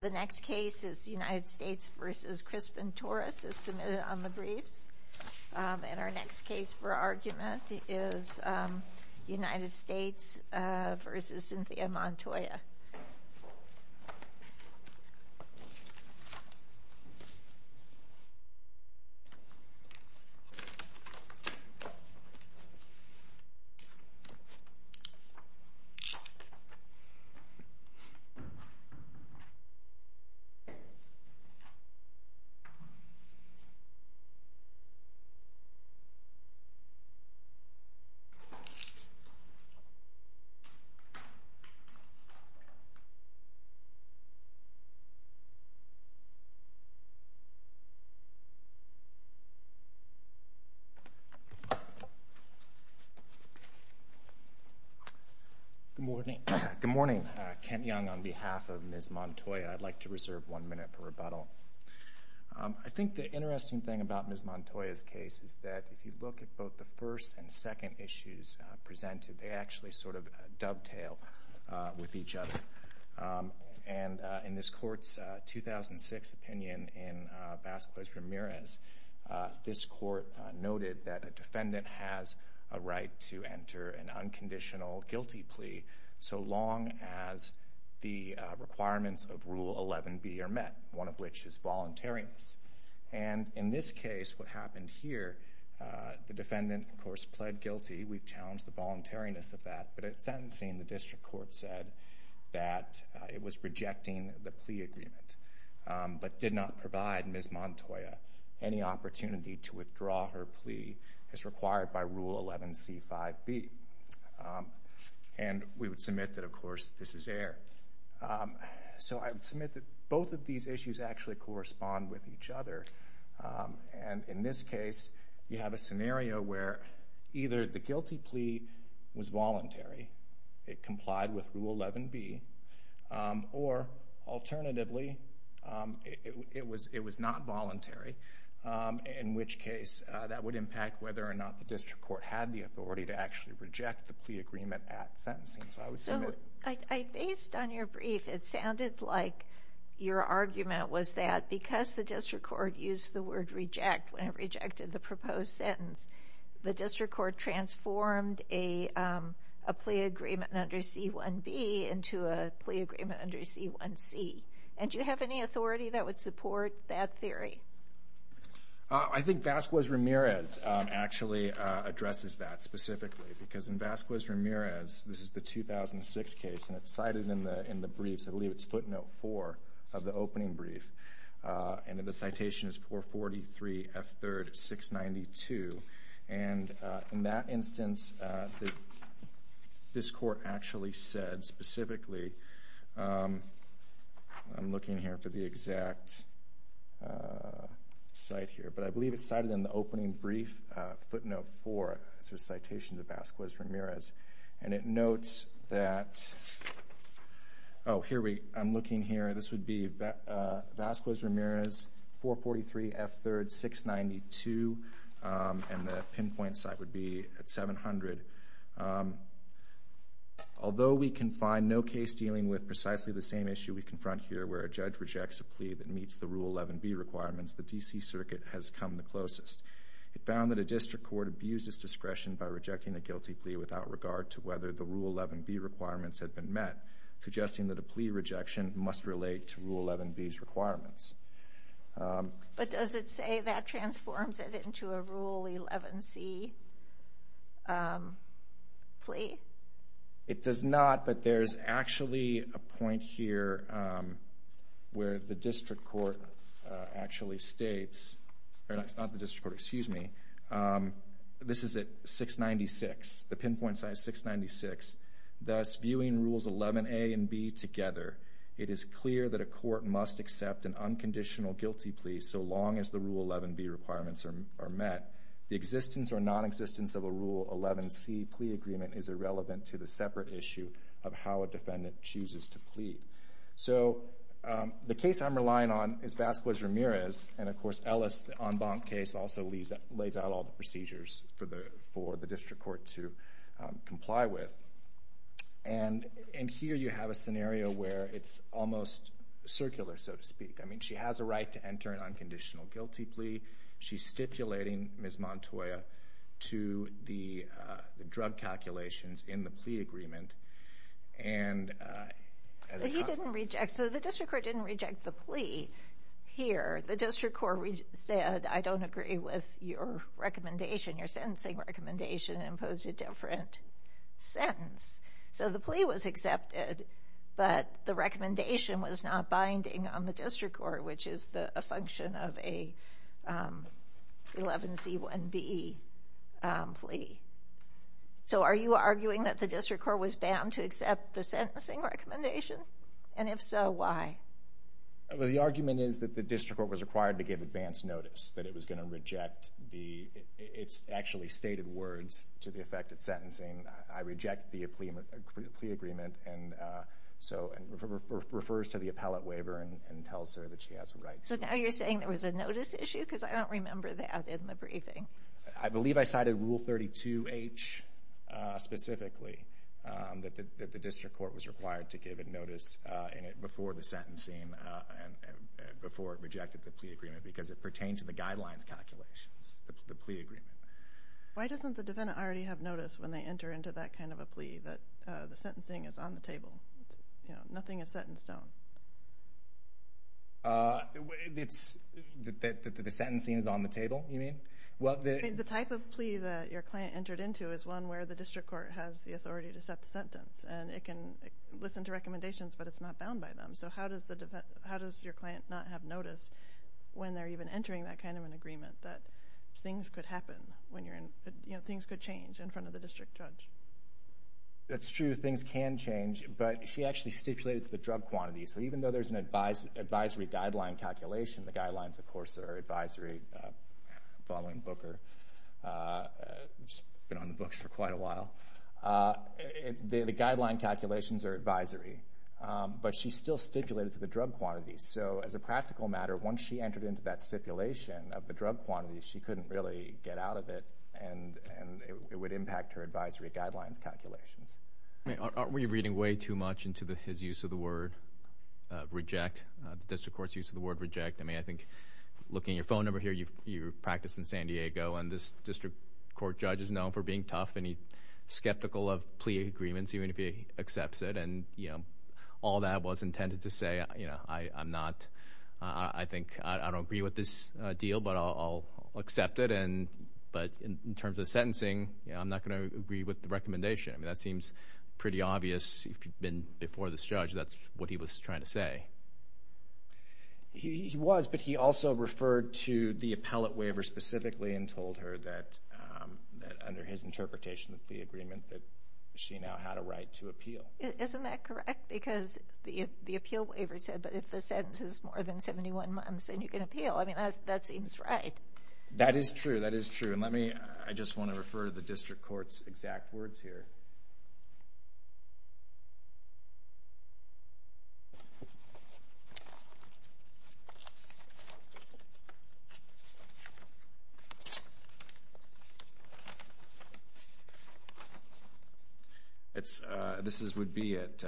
The next case is United States v. Crispin Torres is submitted on the briefs and our next witness is Kent Young Good morning. Kent Young on behalf of Ms. Montoya. I'd like to reserve one minute for rebuttal. I think the interesting thing about Ms. Montoya's case is that if you look at both the first and second issues presented, they actually sort of dovetail with each other. In this court's 2006 opinion in Vasquez Ramirez, this court noted that a defendant has a right to enter an unconditional guilty plea so long as the requirements of Rule 11b are met, one of which is voluntariness. In this case, what happened with sentencing, the district court said that it was rejecting the plea agreement, but did not provide Ms. Montoya any opportunity to withdraw her plea as required by Rule 11c5b. We would submit that, of course, this is error. So I would submit that both of these issues actually correspond with each other. In this case, you have a scenario where either the district court complied with Rule 11b or, alternatively, it was not voluntary, in which case that would impact whether or not the district court had the authority to actually reject the plea agreement at sentencing. Based on your brief, it sounded like your argument was that because the district court used the word reject when it rejected the proposed agreement under C1b into a plea agreement under C1c. Do you have any authority that would support that theory? I think Vasquez Ramirez actually addresses that specifically because in Vasquez Ramirez, this is the 2006 case, and it's cited in the brief, so I believe it's footnote four of the opening brief, and the citation is 443 F3rd 692. In that instance, this court actually said specifically, I'm looking here for the exact site here, but I believe it's cited in the opening brief footnote four, so citation to Vasquez Ramirez, and it notes that, oh, I'm looking here, this would be Vasquez Ramirez 443 F3rd 692, and the pinpoint site would be at 700. Although we can find no case dealing with precisely the same issue we confront here, where a judge rejects a plea that meets the Rule 11b requirements, the D.C. Circuit has come the closest. It found that a district court abused its discretion by rejecting a guilty plea without regard to whether the Rule 11b requirements had been met, suggesting that a plea rejection must relate to Rule 11b's requirements. But does it say that transforms it into a Rule 11c plea? It does not, but there's actually a point here where the district court actually states, not the district court, excuse me, this is at 696, the pinpoint site is 696, thus viewing Rules 11a and b together, it is clear that a court must accept an unconditional guilty plea so long as the Rule 11b requirements are met. The existence or nonexistence of a Rule 11c plea agreement is irrelevant to the separate issue of how a defendant chooses to plea. So the case I'm relying on is Vasquez Ramirez, and of course Ellis, the en banc case, also lays out all the procedures for the district court to comply with. And here you have a scenario where it's almost circular, so to speak. I mean, she has a right to enter an unconditional guilty plea. She's stipulating Ms. Montoya to the drug calculations in the plea agreement. And as a consequence— So he didn't reject—so the district court didn't reject the plea here. The district court said, I don't agree with your recommendation, your sentencing recommendation, and imposed a different sentence. So the plea was accepted, but the recommendation was not binding on the district court, which is a function of a 11c1b plea. So are you arguing that the district court was bound to accept the sentencing recommendation? And if so, why? Well, the argument is that the district court was required to give advance notice, that it was going to reject the—it's actually stated words to the effect of sentencing. I reject the plea agreement, and so—and refers to the appellate waiver and tells her that she has a right to— So now you're saying there was a notice issue? Because I don't remember that in the briefing. I believe I cited Rule 32h specifically, that the district court was required to give it before the sentencing, before it rejected the plea agreement, because it pertained to the guidelines calculations, the plea agreement. Why doesn't the defendant already have notice when they enter into that kind of a plea, that the sentencing is on the table? Nothing is set in stone. The sentencing is on the table, you mean? The type of plea that your client entered into is one where the district court has the So how does your client not have notice when they're even entering that kind of an agreement, that things could happen when you're in—things could change in front of the district judge? That's true, things can change, but she actually stipulated the drug quantity, so even though there's an advisory guideline calculation—the guidelines, of course, are advisory, following Booker, who's been on the books for quite a while—the guideline calculations are advisory, but she still stipulated to the drug quantity, so as a practical matter, once she entered into that stipulation of the drug quantity, she couldn't really get out of it, and it would impact her advisory guidelines calculations. Aren't we reading way too much into his use of the word reject, district court's use of the word reject? I mean, I think, looking at your phone number here, you practice in San Diego, and this district court judge is known for being tough, and he's skeptical of plea agreements, even if he accepts it, and, you know, all that was intended to say, you know, I'm not—I think—I don't agree with this deal, but I'll accept it, and—but in terms of sentencing, you know, I'm not going to agree with the recommendation. I mean, that seems pretty obvious. If you've been before this judge, that's what he was trying to say. He was, but he also referred to the appellate waiver specifically and told her that, under his interpretation of the agreement, that she now had a right to appeal. Isn't that correct? Because the appeal waiver said, but if the sentence is more than 71 months, then you can appeal. I mean, that seems right. That is true. That is true, and let me—I just want to refer to the district court's exact words here. It's—this is—would be at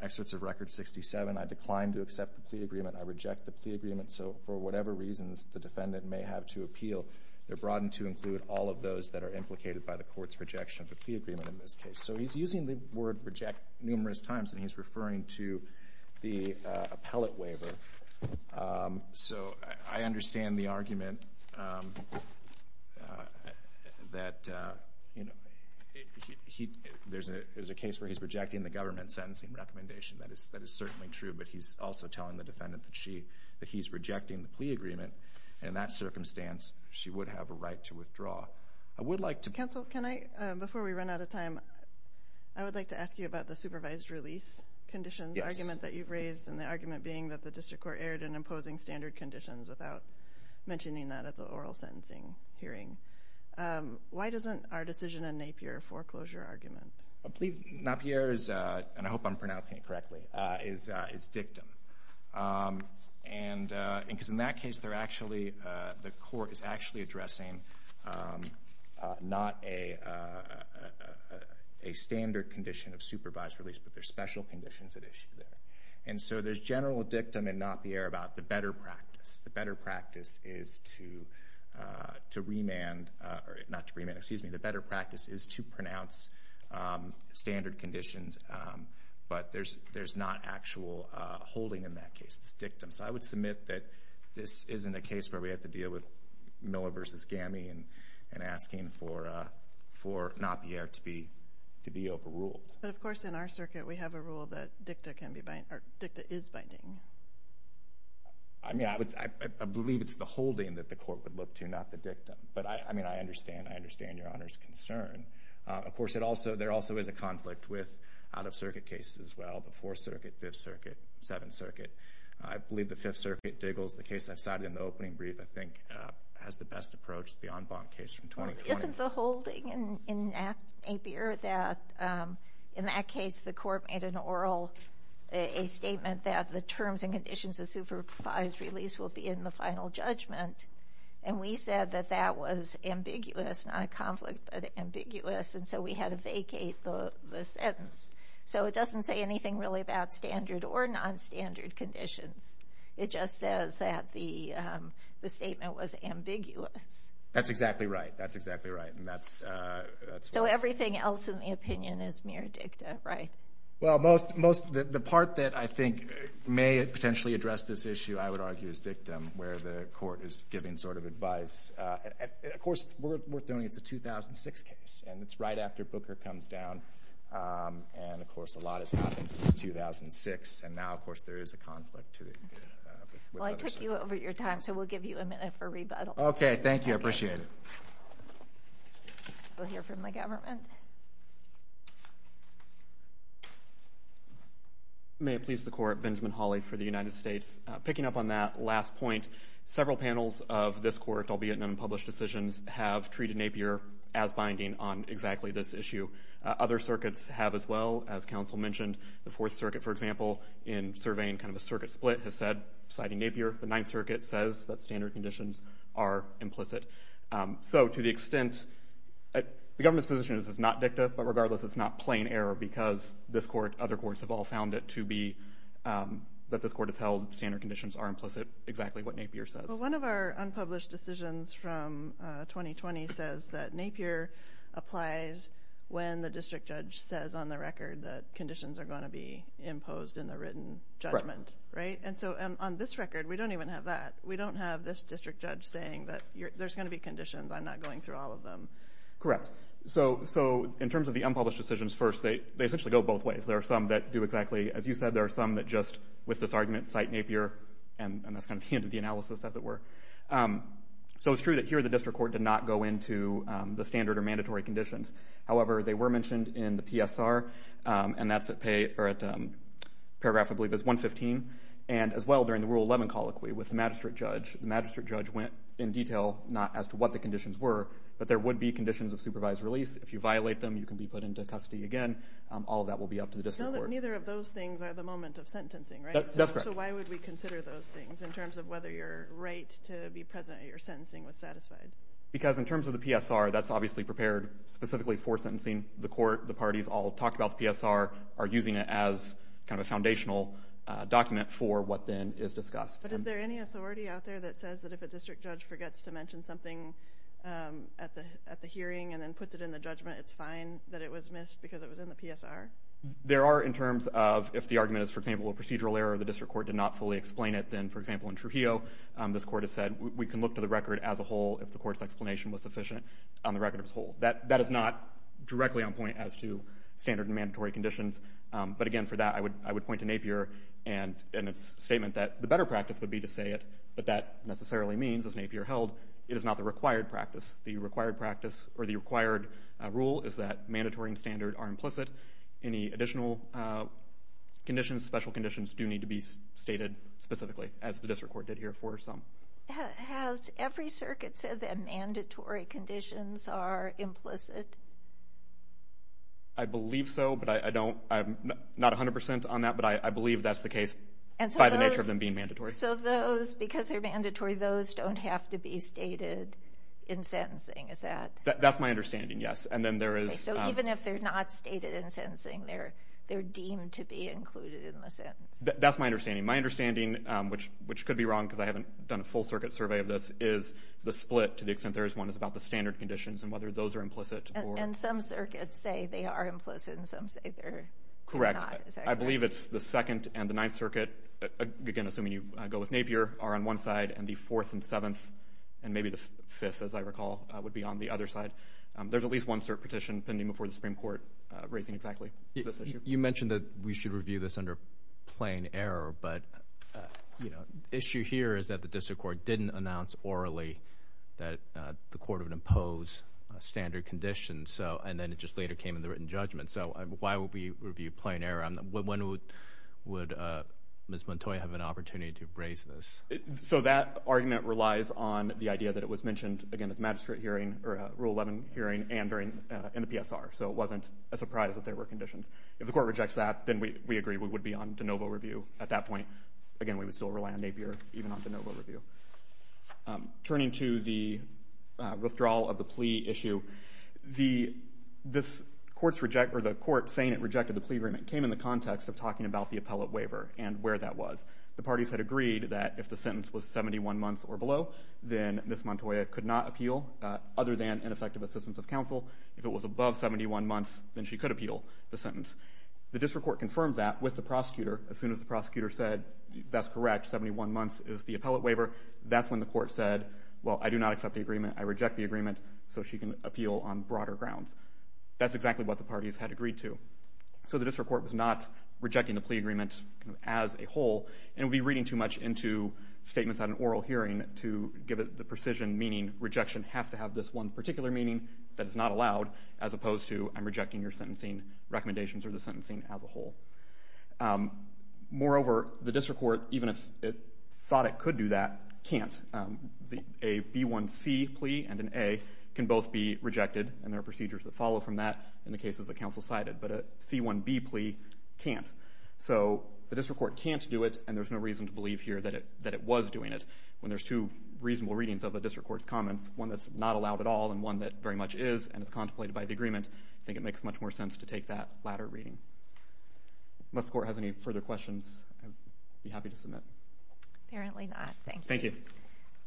excerpts of Record 67, I decline to accept the plea agreement. I reject the plea agreement. So, for whatever reasons the defendant may have to appeal, they're broadened to include all of those that are implicated by the court's rejection of the plea agreement in this case. So, he's using the word reject numerous times, and he's referring to the appellate waiver. So, I understand the argument that, you know, there's a case where he's rejecting the government sentencing recommendation. That is certainly true, but he's also telling the defendant that she—that he's rejecting the plea agreement, and in that circumstance, she would have a right to withdraw. I would like to— Conditions, the argument that you've raised, and the argument being that the district court erred in imposing standard conditions without mentioning that at the oral sentencing hearing. Why doesn't our decision in Napier foreclosure argument? I believe Napier is—and I hope I'm pronouncing it correctly—is dictum, and because in that case, they're actually—the court is actually addressing not a standard condition of supervised release, but there's special conditions at issue there. And so, there's general dictum in Napier about the better practice. The better practice is to remand—not to remand, excuse me—the better practice is to pronounce standard conditions, but there's not actual holding in that case. It's dictum. So, I would submit that this isn't a case where we have to deal with Miller v. Gammie and asking for Napier to be overruled. But of course, in our circuit, we have a rule that dicta can be binding—or dicta is binding. I mean, I would—I believe it's the holding that the court would look to, not the dictum. But I mean, I understand. I understand Your Honor's concern. Of course, it also—there also is a conflict with out-of-circuit cases as well, the Fourth Circuit, Fifth Circuit, Seventh Circuit. I believe the Fifth Circuit, Diggles, the case I've cited in the opening brief, I think, has the best approach to the en banc case from 2020. But isn't the holding in Napier that, in that case, the court made an oral—a statement that the terms and conditions of supervised release will be in the final judgment? And we said that that was ambiguous, not a conflict, but ambiguous, and so we had to vacate the sentence. So, it doesn't say anything really about standard or non-standard conditions. It just says that the statement was ambiguous. That's exactly right. That's exactly right. And that's— So, everything else in the opinion is mere dicta, right? Well, most—the part that I think may potentially address this issue, I would argue, is dictum, where the court is giving sort of advice. Of course, we're doing—it's a 2006 case, and it's right after Booker comes down. And, of course, a lot has happened since 2006, and now, of course, there is a conflict to— Well, I took you over your time, so we'll give you a minute for rebuttal. Okay, thank you. I appreciate it. We'll hear from the government. May it please the Court, Benjamin Hawley for the United States. Picking up on that last point, several panels of this Court, albeit in unpublished decisions, have treated Napier as binding on exactly this issue. Other circuits have as well, as counsel mentioned. The Fourth Circuit, for example, in surveying kind of a circuit split, has said, citing Napier, the Ninth Circuit says that standard conditions are implicit. So, to the extent—the government's position is it's not dicta, but regardless, it's not plain error because this Court, other courts have all found it to be—that this Court has held standard conditions are implicit, exactly what Napier says. Well, one of our unpublished decisions from 2020 says that Napier applies when the district judge says on the record that conditions are going to be imposed in the written judgment, right? And so, on this record, we don't even have that. We don't have this district judge saying that there's going to be conditions. I'm not going through all of them. Correct. So, in terms of the unpublished decisions, first, they essentially go both ways. There are some that do exactly—as you said, there are some that just, with this argument, cite Napier, and that's kind of the end of the analysis, as it were. So, it's true that here, the district court did not go into the standard or mandatory conditions. However, they were and, as well, during the Rule 11 colloquy with the magistrate judge, the magistrate judge went in detail, not as to what the conditions were, but there would be conditions of supervised release. If you violate them, you can be put into custody again. All of that will be up to the district court. Neither of those things are the moment of sentencing, right? That's correct. So, why would we consider those things in terms of whether your right to be present at your sentencing was satisfied? Because, in terms of the PSR, that's obviously prepared specifically for sentencing. The Court, the parties all talk about the PSR, are using it as kind of a foundational document for what then is discussed. But is there any authority out there that says that if a district judge forgets to mention something at the hearing and then puts it in the judgment, it's fine that it was missed because it was in the PSR? There are, in terms of—if the argument is, for example, a procedural error, the district court did not fully explain it, then, for example, in Trujillo, this Court has said, we can look to the record as a whole if the Court's explanation was sufficient on the record as a whole. That is not directly on point as to standard and mandatory conditions. But again, for that, I would point to Napier and its statement that the better practice would be to say it, but that necessarily means, as Napier held, it is not the required practice. The required rule is that mandatory and standard are implicit. Any additional conditions, special conditions, do need to be stated specifically, as the district court did here for some. Has every circuit said that mandatory conditions are implicit? I believe so, but I don't—I'm not 100 percent on that, but I believe that's the case by the nature of them being mandatory. So those, because they're mandatory, those don't have to be stated in sentencing, is that— That's my understanding, yes. And then there is— So even if they're not stated in sentencing, they're deemed to be included in the sentence? That's my understanding. My understanding, which could be wrong because I haven't done a full circuit survey of this, is the split, to the extent there is one, is about the standard conditions and whether those are implicit or— And some circuits say they are implicit and some say they're not, is that correct? Correct. I believe it's the Second and the Ninth Circuit, again, assuming you go with Napier, are on one side, and the Fourth and Seventh, and maybe the Fifth, as I recall, would be on the other side. There's at least one cert petition pending before the Supreme Court raising exactly this issue. You mentioned that we should review this under plain error, but, you know, the issue here is that the district court didn't announce orally that the court would impose standard conditions, and then it just later came in the written judgment. So why would we review plain error? When would Ms. Montoya have an opportunity to raise this? So that argument relies on the idea that it was mentioned, again, at the magistrate hearing, or Rule 11 hearing, and during, in the PSR. So it wasn't a surprise that there were conditions. If the court rejects that, then we agree we would be on de novo review at that point. Again, we would still rely on Napier, even on de novo review. Turning to the withdrawal of the plea issue, the, this court's reject, or the court saying it rejected the plea agreement came in the context of talking about the appellate waiver and where that was. The parties had agreed that if the sentence was 71 months or below, then Ms. Montoya could not appeal, other than an effective assistance of counsel. If it was above 71 months, then she could appeal the sentence. The district court confirmed that with the prosecutor. As soon as the prosecutor said, that's correct, 71 months is the appellate waiver, that's when the court said, well, I do not accept the agreement, I reject the agreement, so she can appeal on broader grounds. That's exactly what the parties had agreed to. So the district court was not rejecting the plea agreement as a whole, and it would be reading too much into statements at an oral hearing to give it the precision meaning, rejection has to have this one particular meaning that is not allowed, as opposed to I'm rejecting your sentencing recommendations or the sentencing as a whole. Moreover, the district court, even if it thought it could do that, can't. A B1C plea and an A can both be rejected, and there are procedures that follow from that in the cases that counsel cited, but a C1B plea can't. So the district court can't do it, and there's no reason to believe here that it was doing it when there's two reasonable readings of the district court's comments, one that's not allowed at all and one that very much is and is contemplated by the agreement. I think it makes much more sense to take that latter reading. Unless the court has any further questions, I'd be happy to submit. Apparently not, thank you.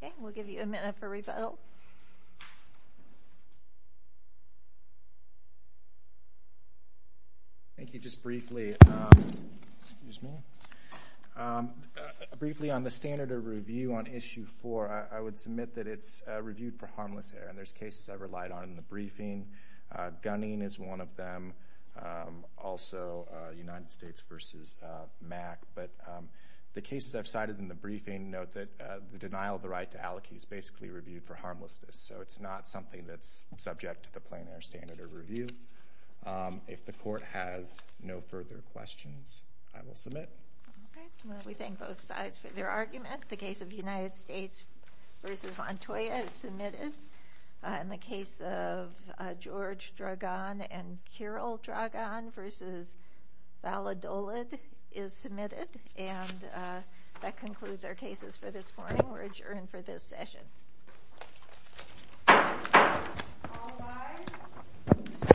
Thank you. We'll give you a minute for rebuttal. Thank you. Just briefly on the standard of review on issue four, I would submit that it's reviewed for harmless error, and there's cases I've relied on in the briefing. Gunning is one of them, also United States versus MAC. But the cases I've cited in the briefing note that the denial of the right to allocate is basically reviewed for harmlessness, so it's not something that's subject to the plain error standard of review. If the court has no further questions, I will submit. Okay. Well, we thank both sides for their argument. The case of United States versus Montoya is submitted, and the case of George Dragan and Kirill Dragan versus Valadolid is submitted. And that concludes our cases for this morning. We're adjourned for this session. All rise.